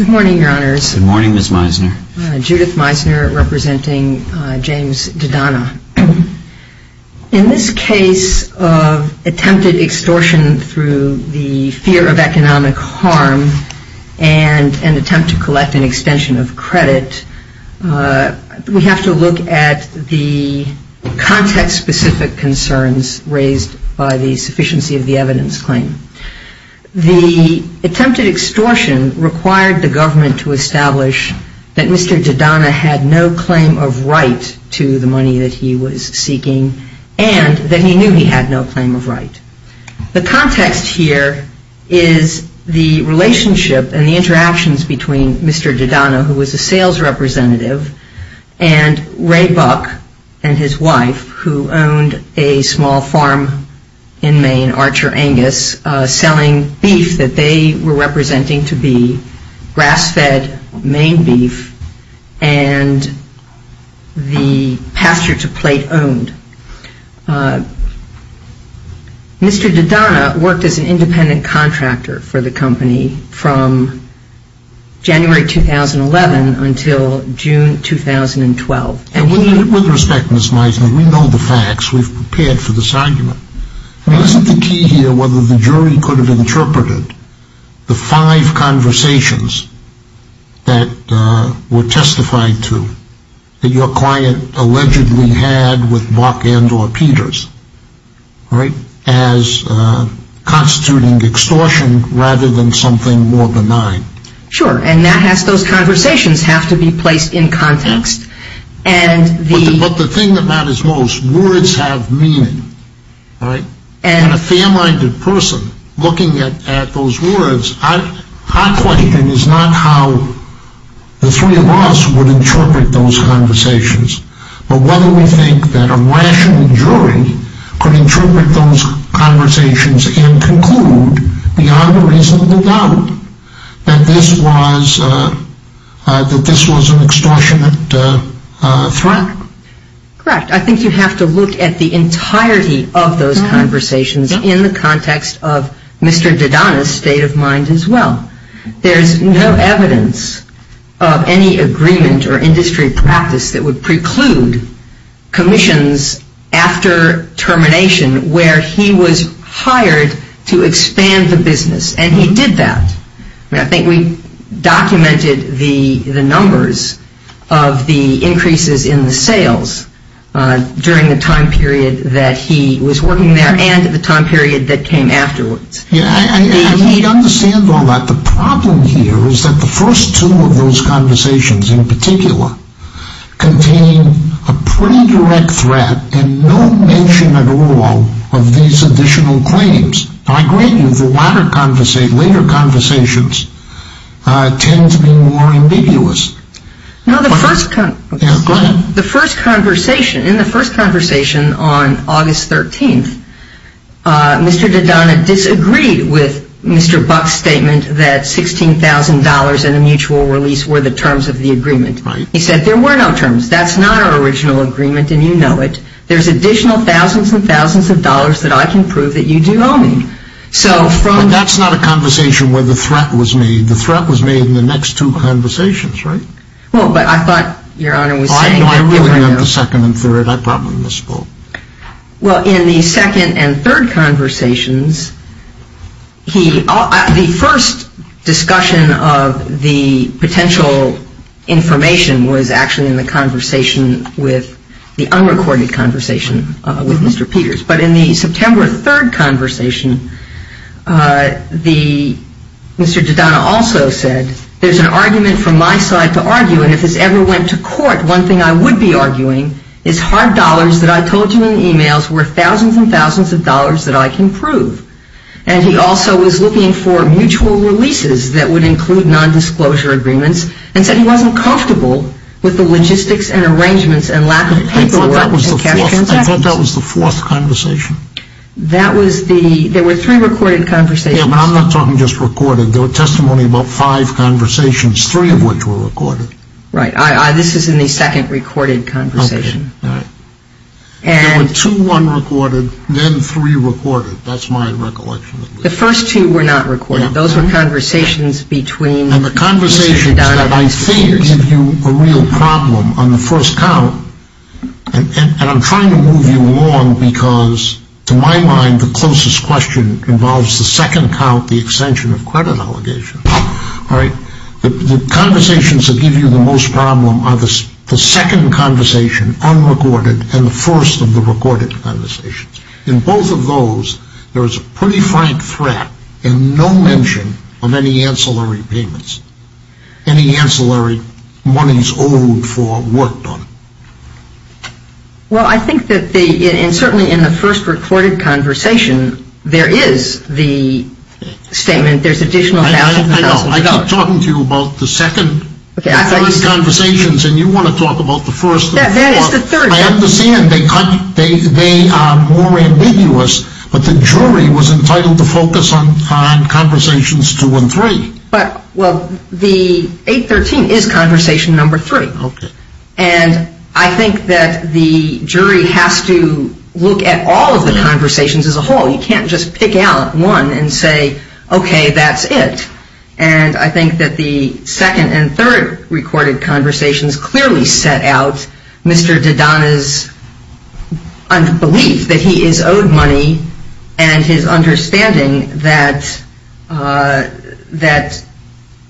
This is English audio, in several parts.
In this case of attempted extortion through the fear of economic harm and an attempt to collect an extension of credit, we have to look at the context-specific concerns raised by the sufficiency of the evidence claim. The attempted extortion required the government to establish that Mr. DiDonna had no claim of right to the money that he was seeking and that he knew he had no claim of right. The context here is the relationship and the interactions between Mr. DiDonna, who was a sales representative, and Ray Buck and his wife, who owned a small farm in Maine, Archer Angus, selling beef that they were representing to be grass-fed Maine beef and the pasture-to-plate owned. Mr. DiDonna worked as an independent contractor for the company from January 2011 until June 2012. With respect, Ms. Meisner, we know the facts. We've prepared for this argument. Isn't the key here whether the jury could have interpreted the five conversations that were testified to that your client allegedly had with Buck and or Peters as constituting extortion rather than something more benign? Sure, and those conversations have to be placed in context. But the thing that matters most, words have meaning. And a fair-minded person looking at those words, our question is not how the three of us would interpret those conversations, but whether we think that a rational jury could interpret those conversations and conclude beyond a reasonable doubt that this was an extortionate threat. Correct. I think you have to look at the entirety of those conversations in the context of Mr. DiDonna's state of mind as well. There's no evidence of any agreement or industry practice that would preclude commissions after termination where he was hired to expand the business, and he did that. I think we documented the numbers of the increases in the sales during the time period that he was working there and the time period that came afterwards. He understands all that. The problem here is that the first two of those conversations in particular contain a pretty direct threat and no mention at all of these additional claims. I agree with you, the later conversations tend to be more ambiguous. In the first conversation on August 13th, Mr. DiDonna disagreed with Mr. Buck's statement that $16,000 and a mutual release were the terms of the agreement. He said there were no terms. That's not our original agreement and you know it. There's additional thousands and thousands of dollars that I can prove that you do owe me. But that's not a conversation where the threat was made. The threat was made in the next two conversations, right? Well, but I thought Your Honor was saying... I really meant the second and third. I brought them in this poll. Well, in the second and third conversations, the first discussion of the potential information was actually in the conversation with the unrecorded conversation with Mr. Peters. But in the September 3rd conversation, Mr. DiDonna also said there's an argument from my side to argue and if this ever went to court, one thing I would be arguing is hard dollars that I told you in emails were thousands and thousands of dollars that I can prove. And he also was looking for mutual releases that would include nondisclosure agreements and said he wasn't comfortable with the logistics and arrangements and lack of paperwork and cash transactions. I thought that was the fourth conversation. That was the... there were three recorded conversations. Yeah, but I'm not talking just recorded. There were testimony about five conversations, three of which were recorded. Right. This is in the second recorded conversation. Okay. All right. And... There were two unrecorded, then three recorded. That's my recollection. And the conversations that I think give you a real problem on the first count, and I'm trying to move you along because to my mind the closest question involves the second count, the extension of credit allegations. All right. The conversations that give you the most problem are the second conversation, unrecorded, and the first of the recorded conversations. In both of those, there is a pretty frank threat and no mention of any ancillary payments, any ancillary monies owed for work done. Well, I think that the... and certainly in the first recorded conversation, there is the statement there's additional thousands and thousands of dollars. I know. I keep talking to you about the second... Okay. I understand they are more ambiguous, but the jury was entitled to focus on conversations two and three. But, well, the 813 is conversation number three. Okay. And I think that the jury has to look at all of the conversations as a whole. You can't just pick out one and say, okay, that's it. And I think that the second and third recorded conversations clearly set out Mr. Dadana's belief that he is owed money and his understanding that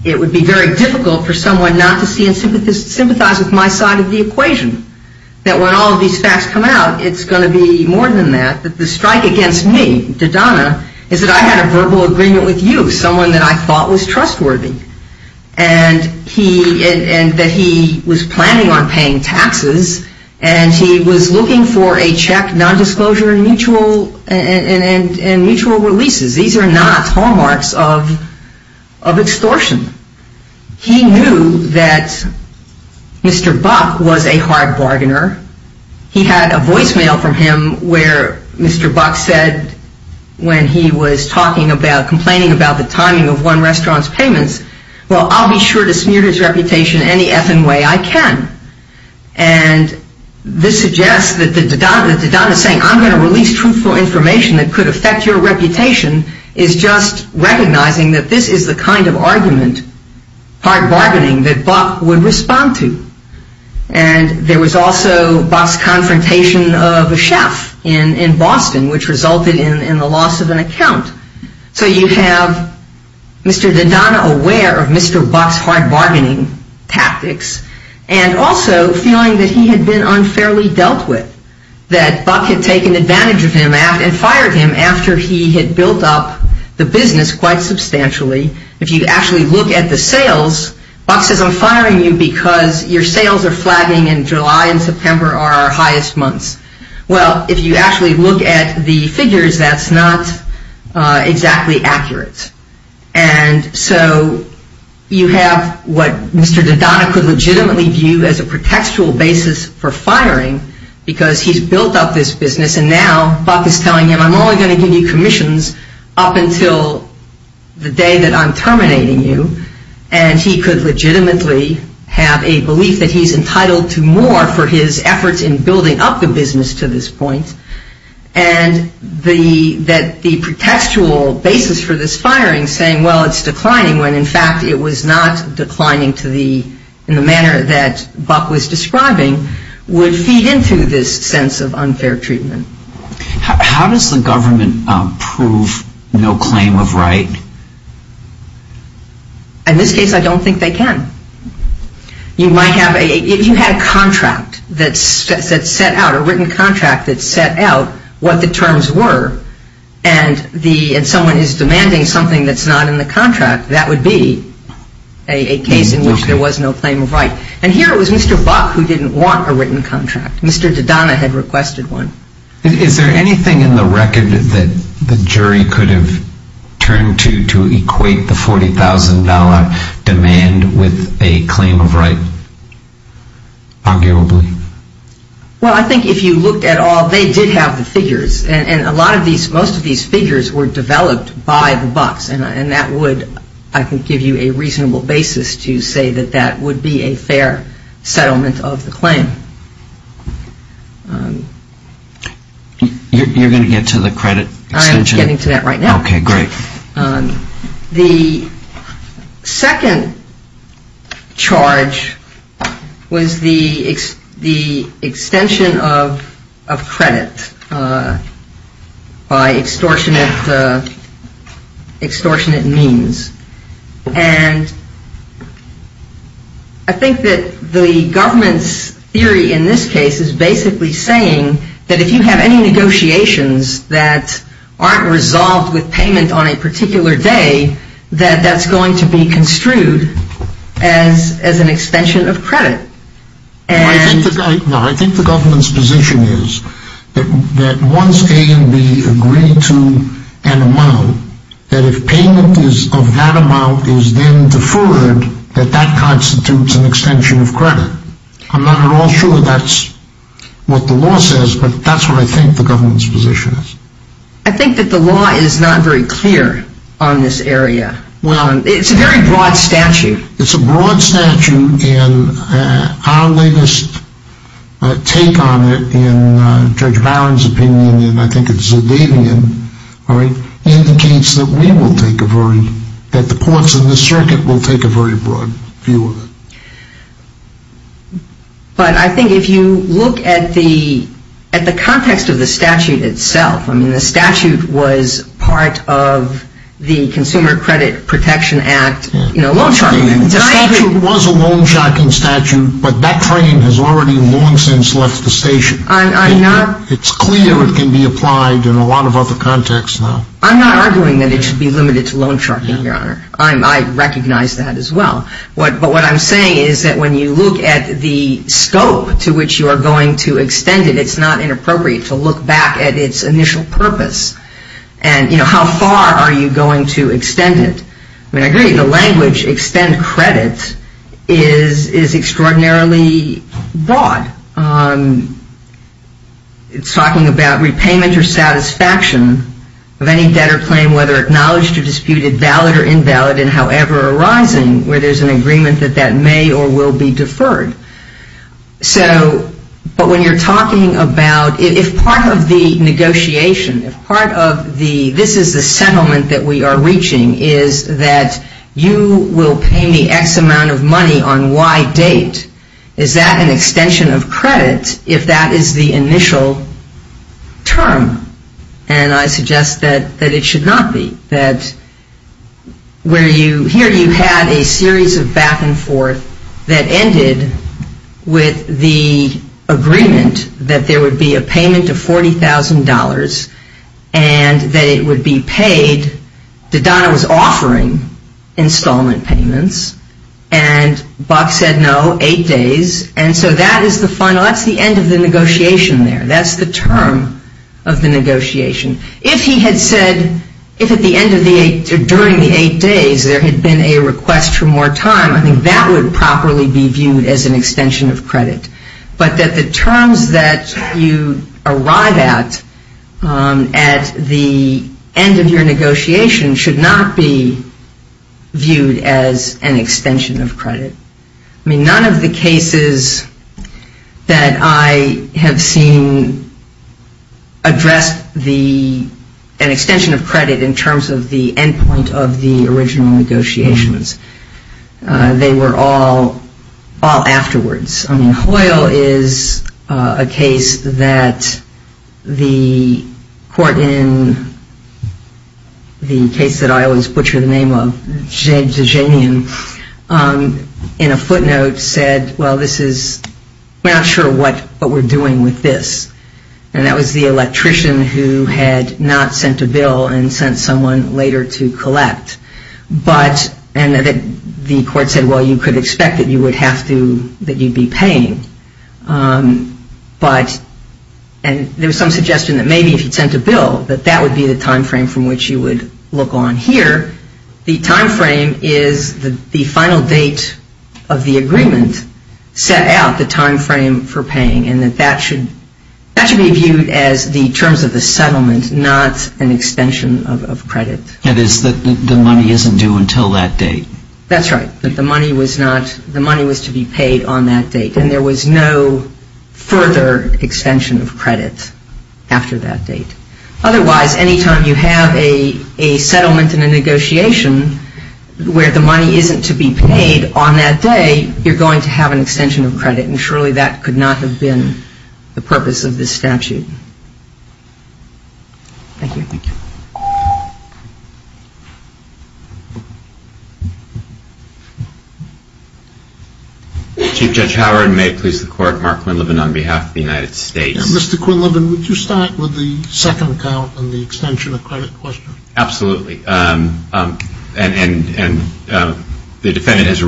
it would be very difficult for someone not to see and sympathize with my side of the equation. That when all of these facts come out, it's going to be more than that. That the strike against me, Dadana, is that I had a verbal agreement with you, someone that I thought was trustworthy. And that he was planning on paying taxes and he was looking for a check, nondisclosure, and mutual releases. These are not hallmarks of extortion. He knew that Mr. Buck was a hard bargainer. He had a voicemail from him where Mr. Buck said when he was talking about, complaining about the timing of one restaurant's payments, well, I'll be sure to smear his reputation any effing way I can. And this suggests that Dadana saying, I'm going to release truthful information that could affect your reputation is just recognizing that this is the kind of argument, hard bargaining, that Buck would respond to. And there was also Buck's confrontation of a chef in Boston, which resulted in the loss of an account. So you have Mr. Dadana aware of Mr. Buck's hard bargaining tactics and also feeling that he had been unfairly dealt with. That Buck had taken advantage of him and fired him after he had built up the business quite substantially. If you actually look at the sales, Buck says I'm firing you because your sales are flagging in July and September are our highest months. Well, if you actually look at the figures, that's not exactly accurate. And so you have what Mr. Dadana could legitimately view as a pretextual basis for firing because he's built up this business. And now Buck is telling him I'm only going to give you commissions up until the day that I'm terminating you. And he could legitimately have a belief that he's entitled to more for his efforts in building up the business to this point. And that the pretextual basis for this firing saying, well, it's declining, when in fact it was not declining in the manner that Buck was describing, would feed into this sense of unfair treatment. How does the government prove no claim of right? In this case, I don't think they can. You might have a, if you had a contract that set out, a written contract that set out what the terms were, and someone is demanding something that's not in the contract, that would be a case in which there was no claim of right. And here it was Mr. Buck who didn't want a written contract. Mr. Dadana had requested one. Is there anything in the record that the jury could have turned to to equate the $40,000 demand with a claim of right, arguably? Well, I think if you looked at all, they did have the figures. And a lot of these, most of these figures were developed by the Bucks. And that would, I think, give you a reasonable basis to say that that would be a fair settlement of the claim. You're going to get to the credit extension? I am getting to that right now. Okay, great. The second charge was the extension of credit by extortionate means. And I think that the government's theory in this case is basically saying that if you have any negotiations that aren't resolved with payment on a particular day, that that's going to be construed as an extension of credit. I think the government's position is that once A and B agree to an amount, that if payment of that amount is then deferred, that that constitutes an extension of credit. I'm not at all sure that that's what the law says, but that's what I think the government's position is. I think that the law is not very clear on this area. It's a very broad statute. It's a broad statute, and our latest take on it in Judge Barron's opinion, and I think it's Zedavian, indicates that we will take a very, that the courts in this circuit will take a very broad view of it. But I think if you look at the context of the statute itself, I mean the statute was part of the Consumer Credit Protection Act, you know, loan sharking. The statute was a loan sharking statute, but that claim has already long since left the station. It's clear it can be applied in a lot of other contexts now. I'm not arguing that it should be limited to loan sharking, Your Honor. I recognize that as well. But what I'm saying is that when you look at the scope to which you are going to extend it, it's not inappropriate to look back at its initial purpose and, you know, how far are you going to extend it. I mean, I agree, the language, extend credit, is extraordinarily broad. It's talking about repayment or satisfaction of any debtor claim, whether acknowledged or disputed, valid or invalid, and however arising, where there's an agreement that that may or will be deferred. So, but when you're talking about, if part of the negotiation, if part of the, this is the settlement that we are reaching, is that you will pay me X amount of money on Y date, is that an extension of credit if that is the initial term? And I suggest that it should not be. That where you, here you had a series of back and forth that ended with the agreement that there would be a payment of $40,000 and that it would be paid, that Donna was offering installment payments, and Buck said no, eight days, and so that is the final, that's the end of the negotiation there. That's the term of the negotiation. If he had said, if at the end of the eight, during the eight days, there had been a request for more time, I think that would properly be viewed as an extension of credit. But that the terms that you arrive at, at the end of your negotiation, should not be viewed as an extension of credit. I mean, none of the cases that I have seen addressed the, an extension of credit in terms of the end point of the original negotiations. They were all, all afterwards. I mean, Hoyle is a case that the court in the case that I always butcher the name of, in a footnote said, well, this is, we're not sure what we're doing with this. And that was the electrician who had not sent a bill and sent someone later to collect. But, and the court said, well, you could expect that you would have to, that you'd be paying. But, and there was some suggestion that maybe if you'd sent a bill, that that would be the time frame from which you would look on here. The time frame is the final date of the agreement set out the time frame for paying, and that that should, that should be viewed as the terms of the settlement, not an extension of credit. And is that the money isn't due until that date? That's right. The money was not, the money was to be paid on that date, and there was no further extension of credit after that date. Otherwise, any time you have a settlement in a negotiation where the money isn't to be paid on that day, you're going to have an extension of credit, and surely that could not have been the purpose of this statute. Thank you. Thank you. Chief Judge Howard, and may it please the Court, Mark Quinlivan on behalf of the United States. Mr. Quinlivan, would you start with the second count on the extension of credit question? Absolutely. And the defendant has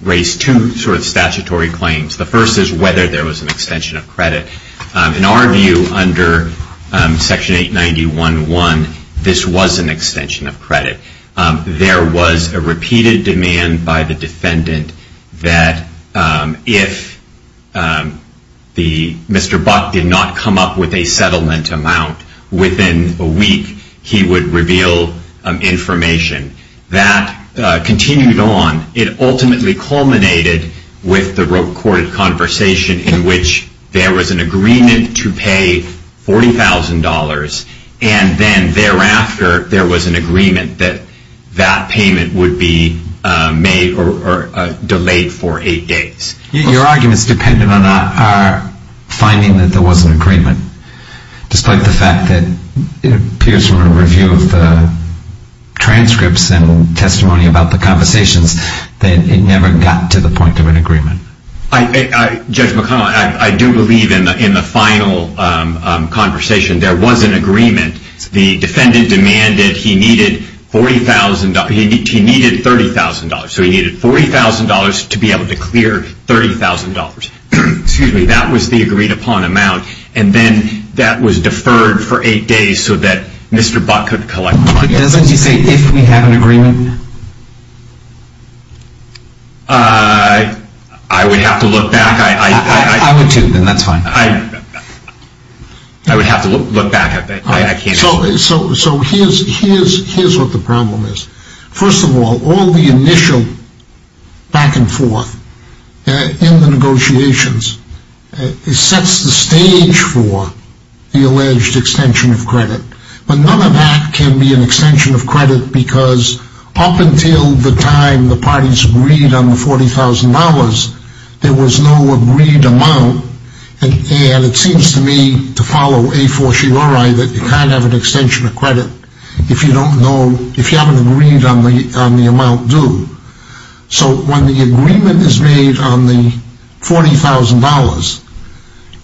raised two sort of statutory claims. The first is whether there was an extension of credit. In our view, under Section 891.1, this was an extension of credit. There was a repeated demand by the defendant that if the, Mr. Buck did not come up with a settlement amount within a week, he would reveal information. That continued on. It ultimately culminated with the recorded conversation in which there was an agreement to pay $40,000, and then thereafter there was an agreement that that payment would be made or delayed for eight days. Your arguments depend on our finding that there was an agreement. Despite the fact that it appears from a review of the transcripts and testimony about the conversations that it never got to the point of an agreement. Judge McConnell, I do believe in the final conversation there was an agreement. The defendant demanded he needed $40,000. He needed $30,000. So he needed $40,000 to be able to clear $30,000. Excuse me, that was the agreed upon amount. And then that was deferred for eight days so that Mr. Buck could collect money. Doesn't he say if we have an agreement? I would have to look back. I would too, then that's fine. I would have to look back at that. So here's what the problem is. First of all, all the initial back and forth in the negotiations, it sets the stage for the alleged extension of credit. But none of that can be an extension of credit because up until the time the parties agreed on the $40,000, there was no agreed amount. And it seems to me to follow a fortiori that you can't have an extension of credit if you don't know, if you haven't agreed on the amount due. So when the agreement is made on the $40,000,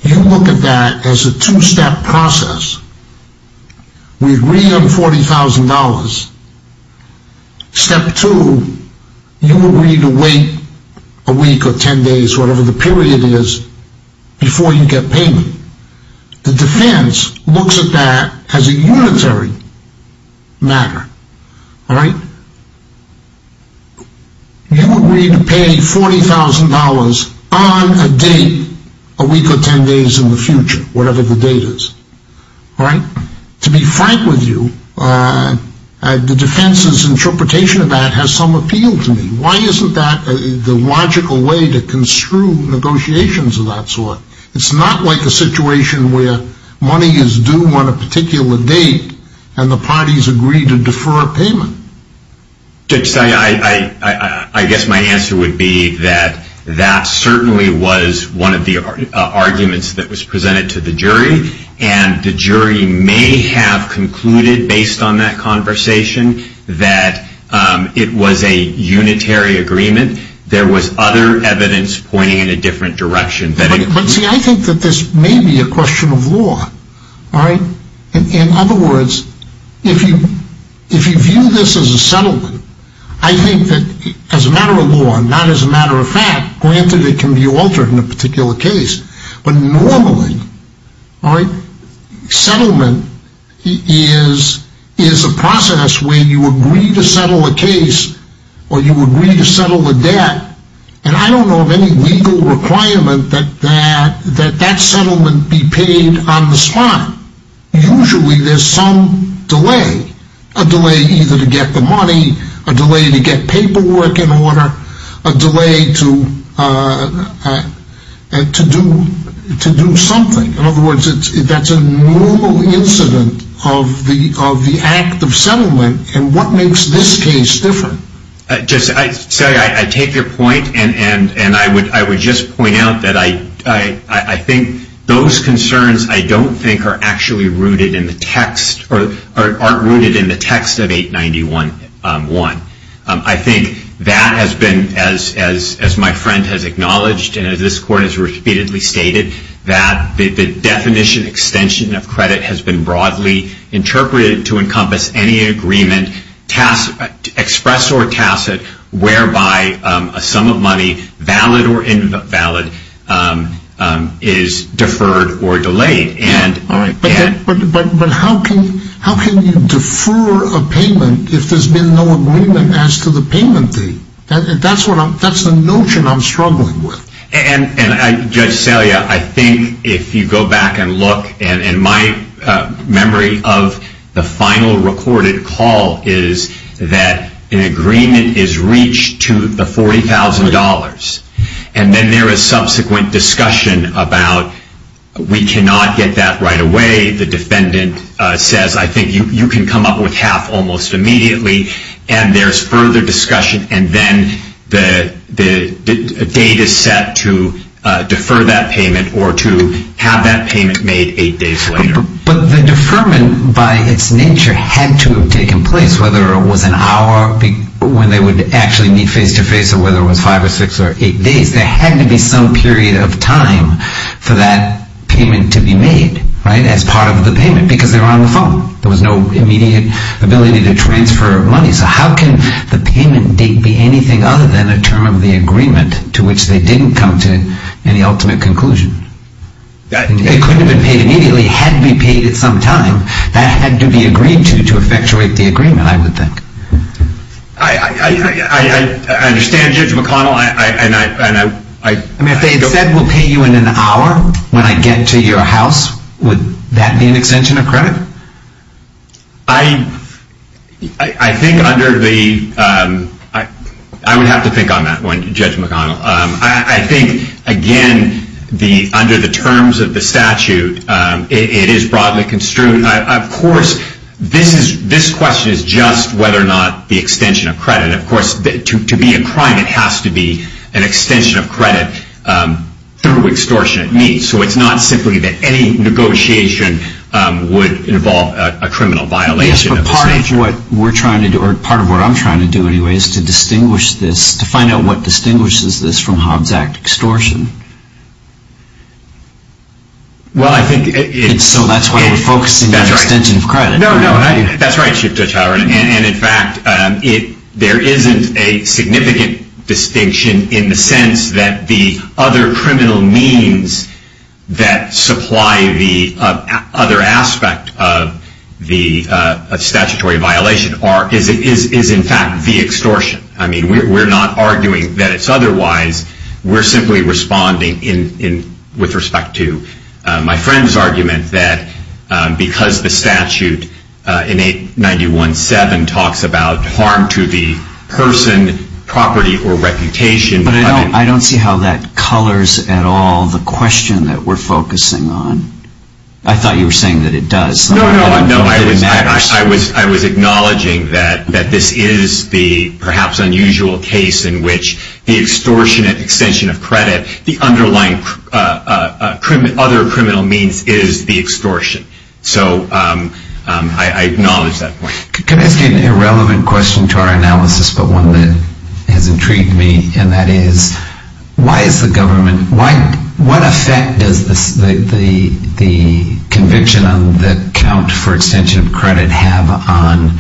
you look at that as a two-step process. We agree on $40,000. Step two, you agree to wait a week or ten days, whatever the period is, before you get payment. The defense looks at that as a unitary matter. All right? You agree to pay $40,000 on a date a week or ten days in the future, whatever the date is. All right? To be frank with you, the defense's interpretation of that has some appeal to me. Why isn't that the logical way to construe negotiations of that sort? It's not like a situation where money is due on a particular date and the parties agree to defer a payment. Judge, I guess my answer would be that that certainly was one of the arguments that was presented to the jury, and the jury may have concluded, based on that conversation, that it was a unitary agreement. There was other evidence pointing in a different direction. But, see, I think that this may be a question of law. All right? In other words, if you view this as a settlement, I think that, as a matter of law and not as a matter of fact, granted it can be altered in a particular case, but normally, all right, settlement is a process where you agree to settle a case or you agree to settle a debt, and I don't know of any legal requirement that that settlement be paid on the spot. Usually there's some delay, a delay either to get the money, a delay to get paperwork in order, a delay to do something. In other words, that's a normal incident of the act of settlement, and what makes this case different? I take your point, and I would just point out that I think those concerns I don't think are actually rooted in the text or aren't rooted in the text of 891.1. I think that has been, as my friend has acknowledged and as this Court has repeatedly stated, that the definition extension of credit has been broadly interpreted to encompass any agreement, express or tacit, whereby a sum of money, valid or invalid, is deferred or delayed. But how can you defer a payment if there's been no agreement as to the payment fee? That's the notion I'm struggling with. And, Judge Salia, I think if you go back and look, and my memory of the final recorded call is that an agreement is reached to the $40,000, and then there is subsequent discussion about we cannot get that right away. The defendant says, I think you can come up with half almost immediately, and there's further discussion, and then the date is set to defer that payment or to have that payment made eight days later. But the deferment, by its nature, had to have taken place, whether it was an hour when they would actually meet face-to-face or whether it was five or six or eight days. There had to be some period of time for that payment to be made as part of the payment, because they were on the phone. There was no immediate ability to transfer money. So how can the payment date be anything other than a term of the agreement to which they didn't come to any ultimate conclusion? It couldn't have been paid immediately. It had to be paid at some time. That had to be agreed to to effectuate the agreement, I would think. I understand, Judge McConnell. I mean, if they had said we'll pay you in an hour when I get to your house, would that be an extension of credit? I would have to think on that one, Judge McConnell. I think, again, under the terms of the statute, it is broadly construed. Of course, this question is just whether or not the extension of credit. Of course, to be a crime, it has to be an extension of credit through extortionate means. So it's not simply that any negotiation would involve a criminal violation of the statute. Yes, but part of what we're trying to do, or part of what I'm trying to do anyway, is to distinguish this, to find out what distinguishes this from Hobbs Act extortion. Well, I think it's- So that's why we're focusing on the extension of credit. No, no, that's right, Chief Judge Howard. And, in fact, there isn't a significant distinction in the sense that the other criminal means that supply the other aspect of the statutory violation is, in fact, the extortion. I mean, we're not arguing that it's otherwise. We're simply responding with respect to my friend's argument that because the statute in 891.7 talks about harm to the person, property, or reputation- But I don't see how that colors at all the question that we're focusing on. I thought you were saying that it does. No, no, I was acknowledging that this is the perhaps unusual case in which the extortion and extension of credit, the underlying other criminal means, is the extortion. So I acknowledge that point. Could I ask you an irrelevant question to our analysis, but one that has intrigued me, and that is why is the government- What effect does the conviction on the count for extension of credit have on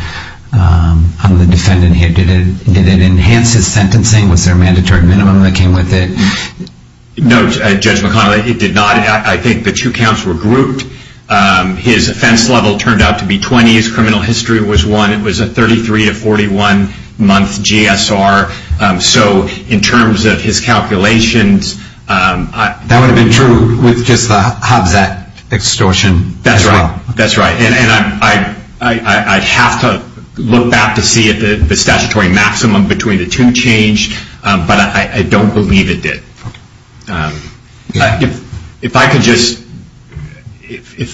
the defendant here? Did it enhance his sentencing? Was there a mandatory minimum that came with it? No, Judge McConnell, it did not. I think the two counts were grouped. His offense level turned out to be 20. His criminal history was one. It was a 33-to-41-month GSR. So in terms of his calculations- That would have been true with just the Hobbs Act extortion as well. That's right. And I'd have to look back to see if the statutory maximum between the two changed, but I don't believe it did. If I could just,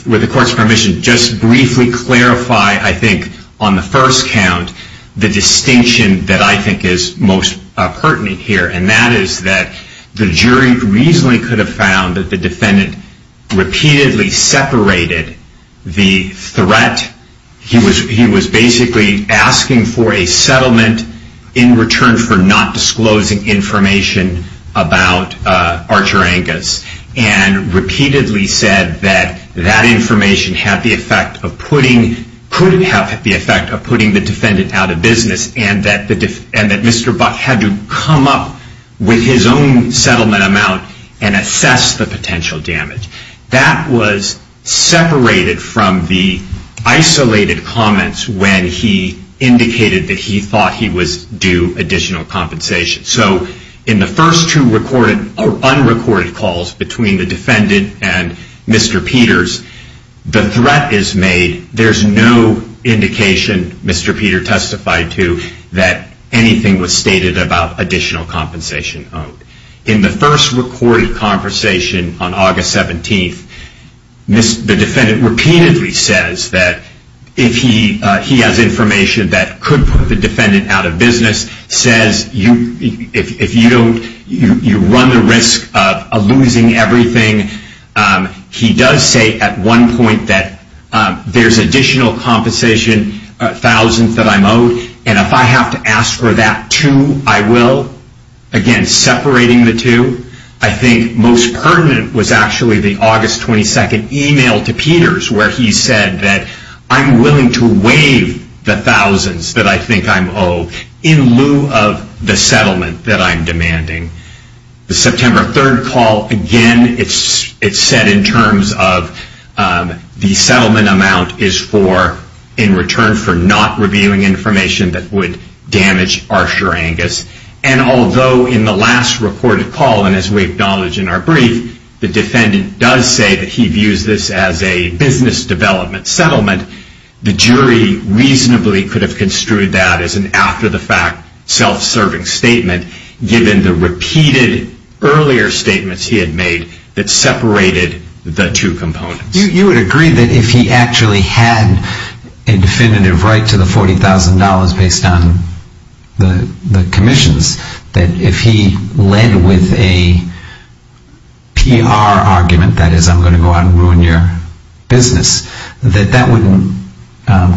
with the court's permission, just briefly clarify, I think, on the first count, the distinction that I think is most pertinent here, and that is that the jury reasonably could have found that the defendant repeatedly separated the threat. He was basically asking for a settlement in return for not disclosing information about Archer Angus, and repeatedly said that that information had the effect of putting- could have the effect of putting the defendant out of business, and that Mr. Buck had to come up with his own settlement amount and assess the potential damage. That was separated from the isolated comments when he indicated that he thought he was due additional compensation. So in the first two unrecorded calls between the defendant and Mr. Peters, the threat is made. There's no indication, Mr. Peter testified to, that anything was stated about additional compensation owed. In the first recorded conversation on August 17th, the defendant repeatedly says that if he has information that could put the defendant out of business, says if you don't, you run the risk of losing everything. He does say at one point that there's additional compensation, thousands that I'm owed, and if I have to ask for that too, I will. Again, separating the two. I think most pertinent was actually the August 22nd email to Peters, where he said that I'm willing to waive the thousands that I think I'm owed, The September 3rd call, again, it's set in terms of the settlement amount is for, in return for not revealing information that would damage Arsher Angus. And although in the last recorded call, and as we acknowledge in our brief, the defendant does say that he views this as a business development settlement, the jury reasonably could have construed that as an after-the-fact self-serving statement, given the repeated earlier statements he had made that separated the two components. You would agree that if he actually had a definitive right to the $40,000 based on the commissions, that if he led with a PR argument, that is, I'm going to go out and ruin your business, that that wouldn't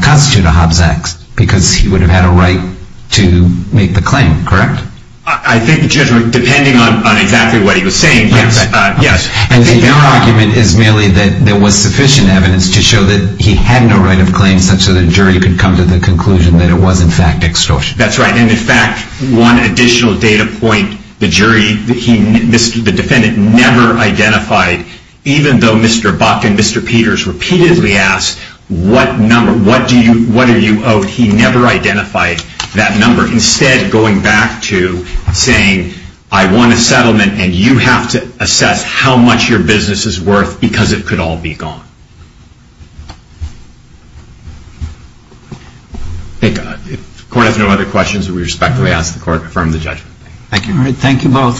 constitute a Hobbs Act, because he would have had a right to make the claim, correct? I think, Judge, depending on exactly what he was saying, yes. And your argument is merely that there was sufficient evidence to show that he had no right of claim, such that a jury could come to the conclusion that it was in fact extortion. That's right, and in fact, one additional data point, the jury, the defendant never identified, even though Mr. Buck and Mr. Peters repeatedly asked, what are you owed? He never identified that number. Instead, going back to saying, I want a settlement, and you have to assess how much your business is worth, because it could all be gone. Thank God. If the court has no other questions, we respectfully ask the court to affirm the judgment. Thank you. All right, thank you both. Thank you.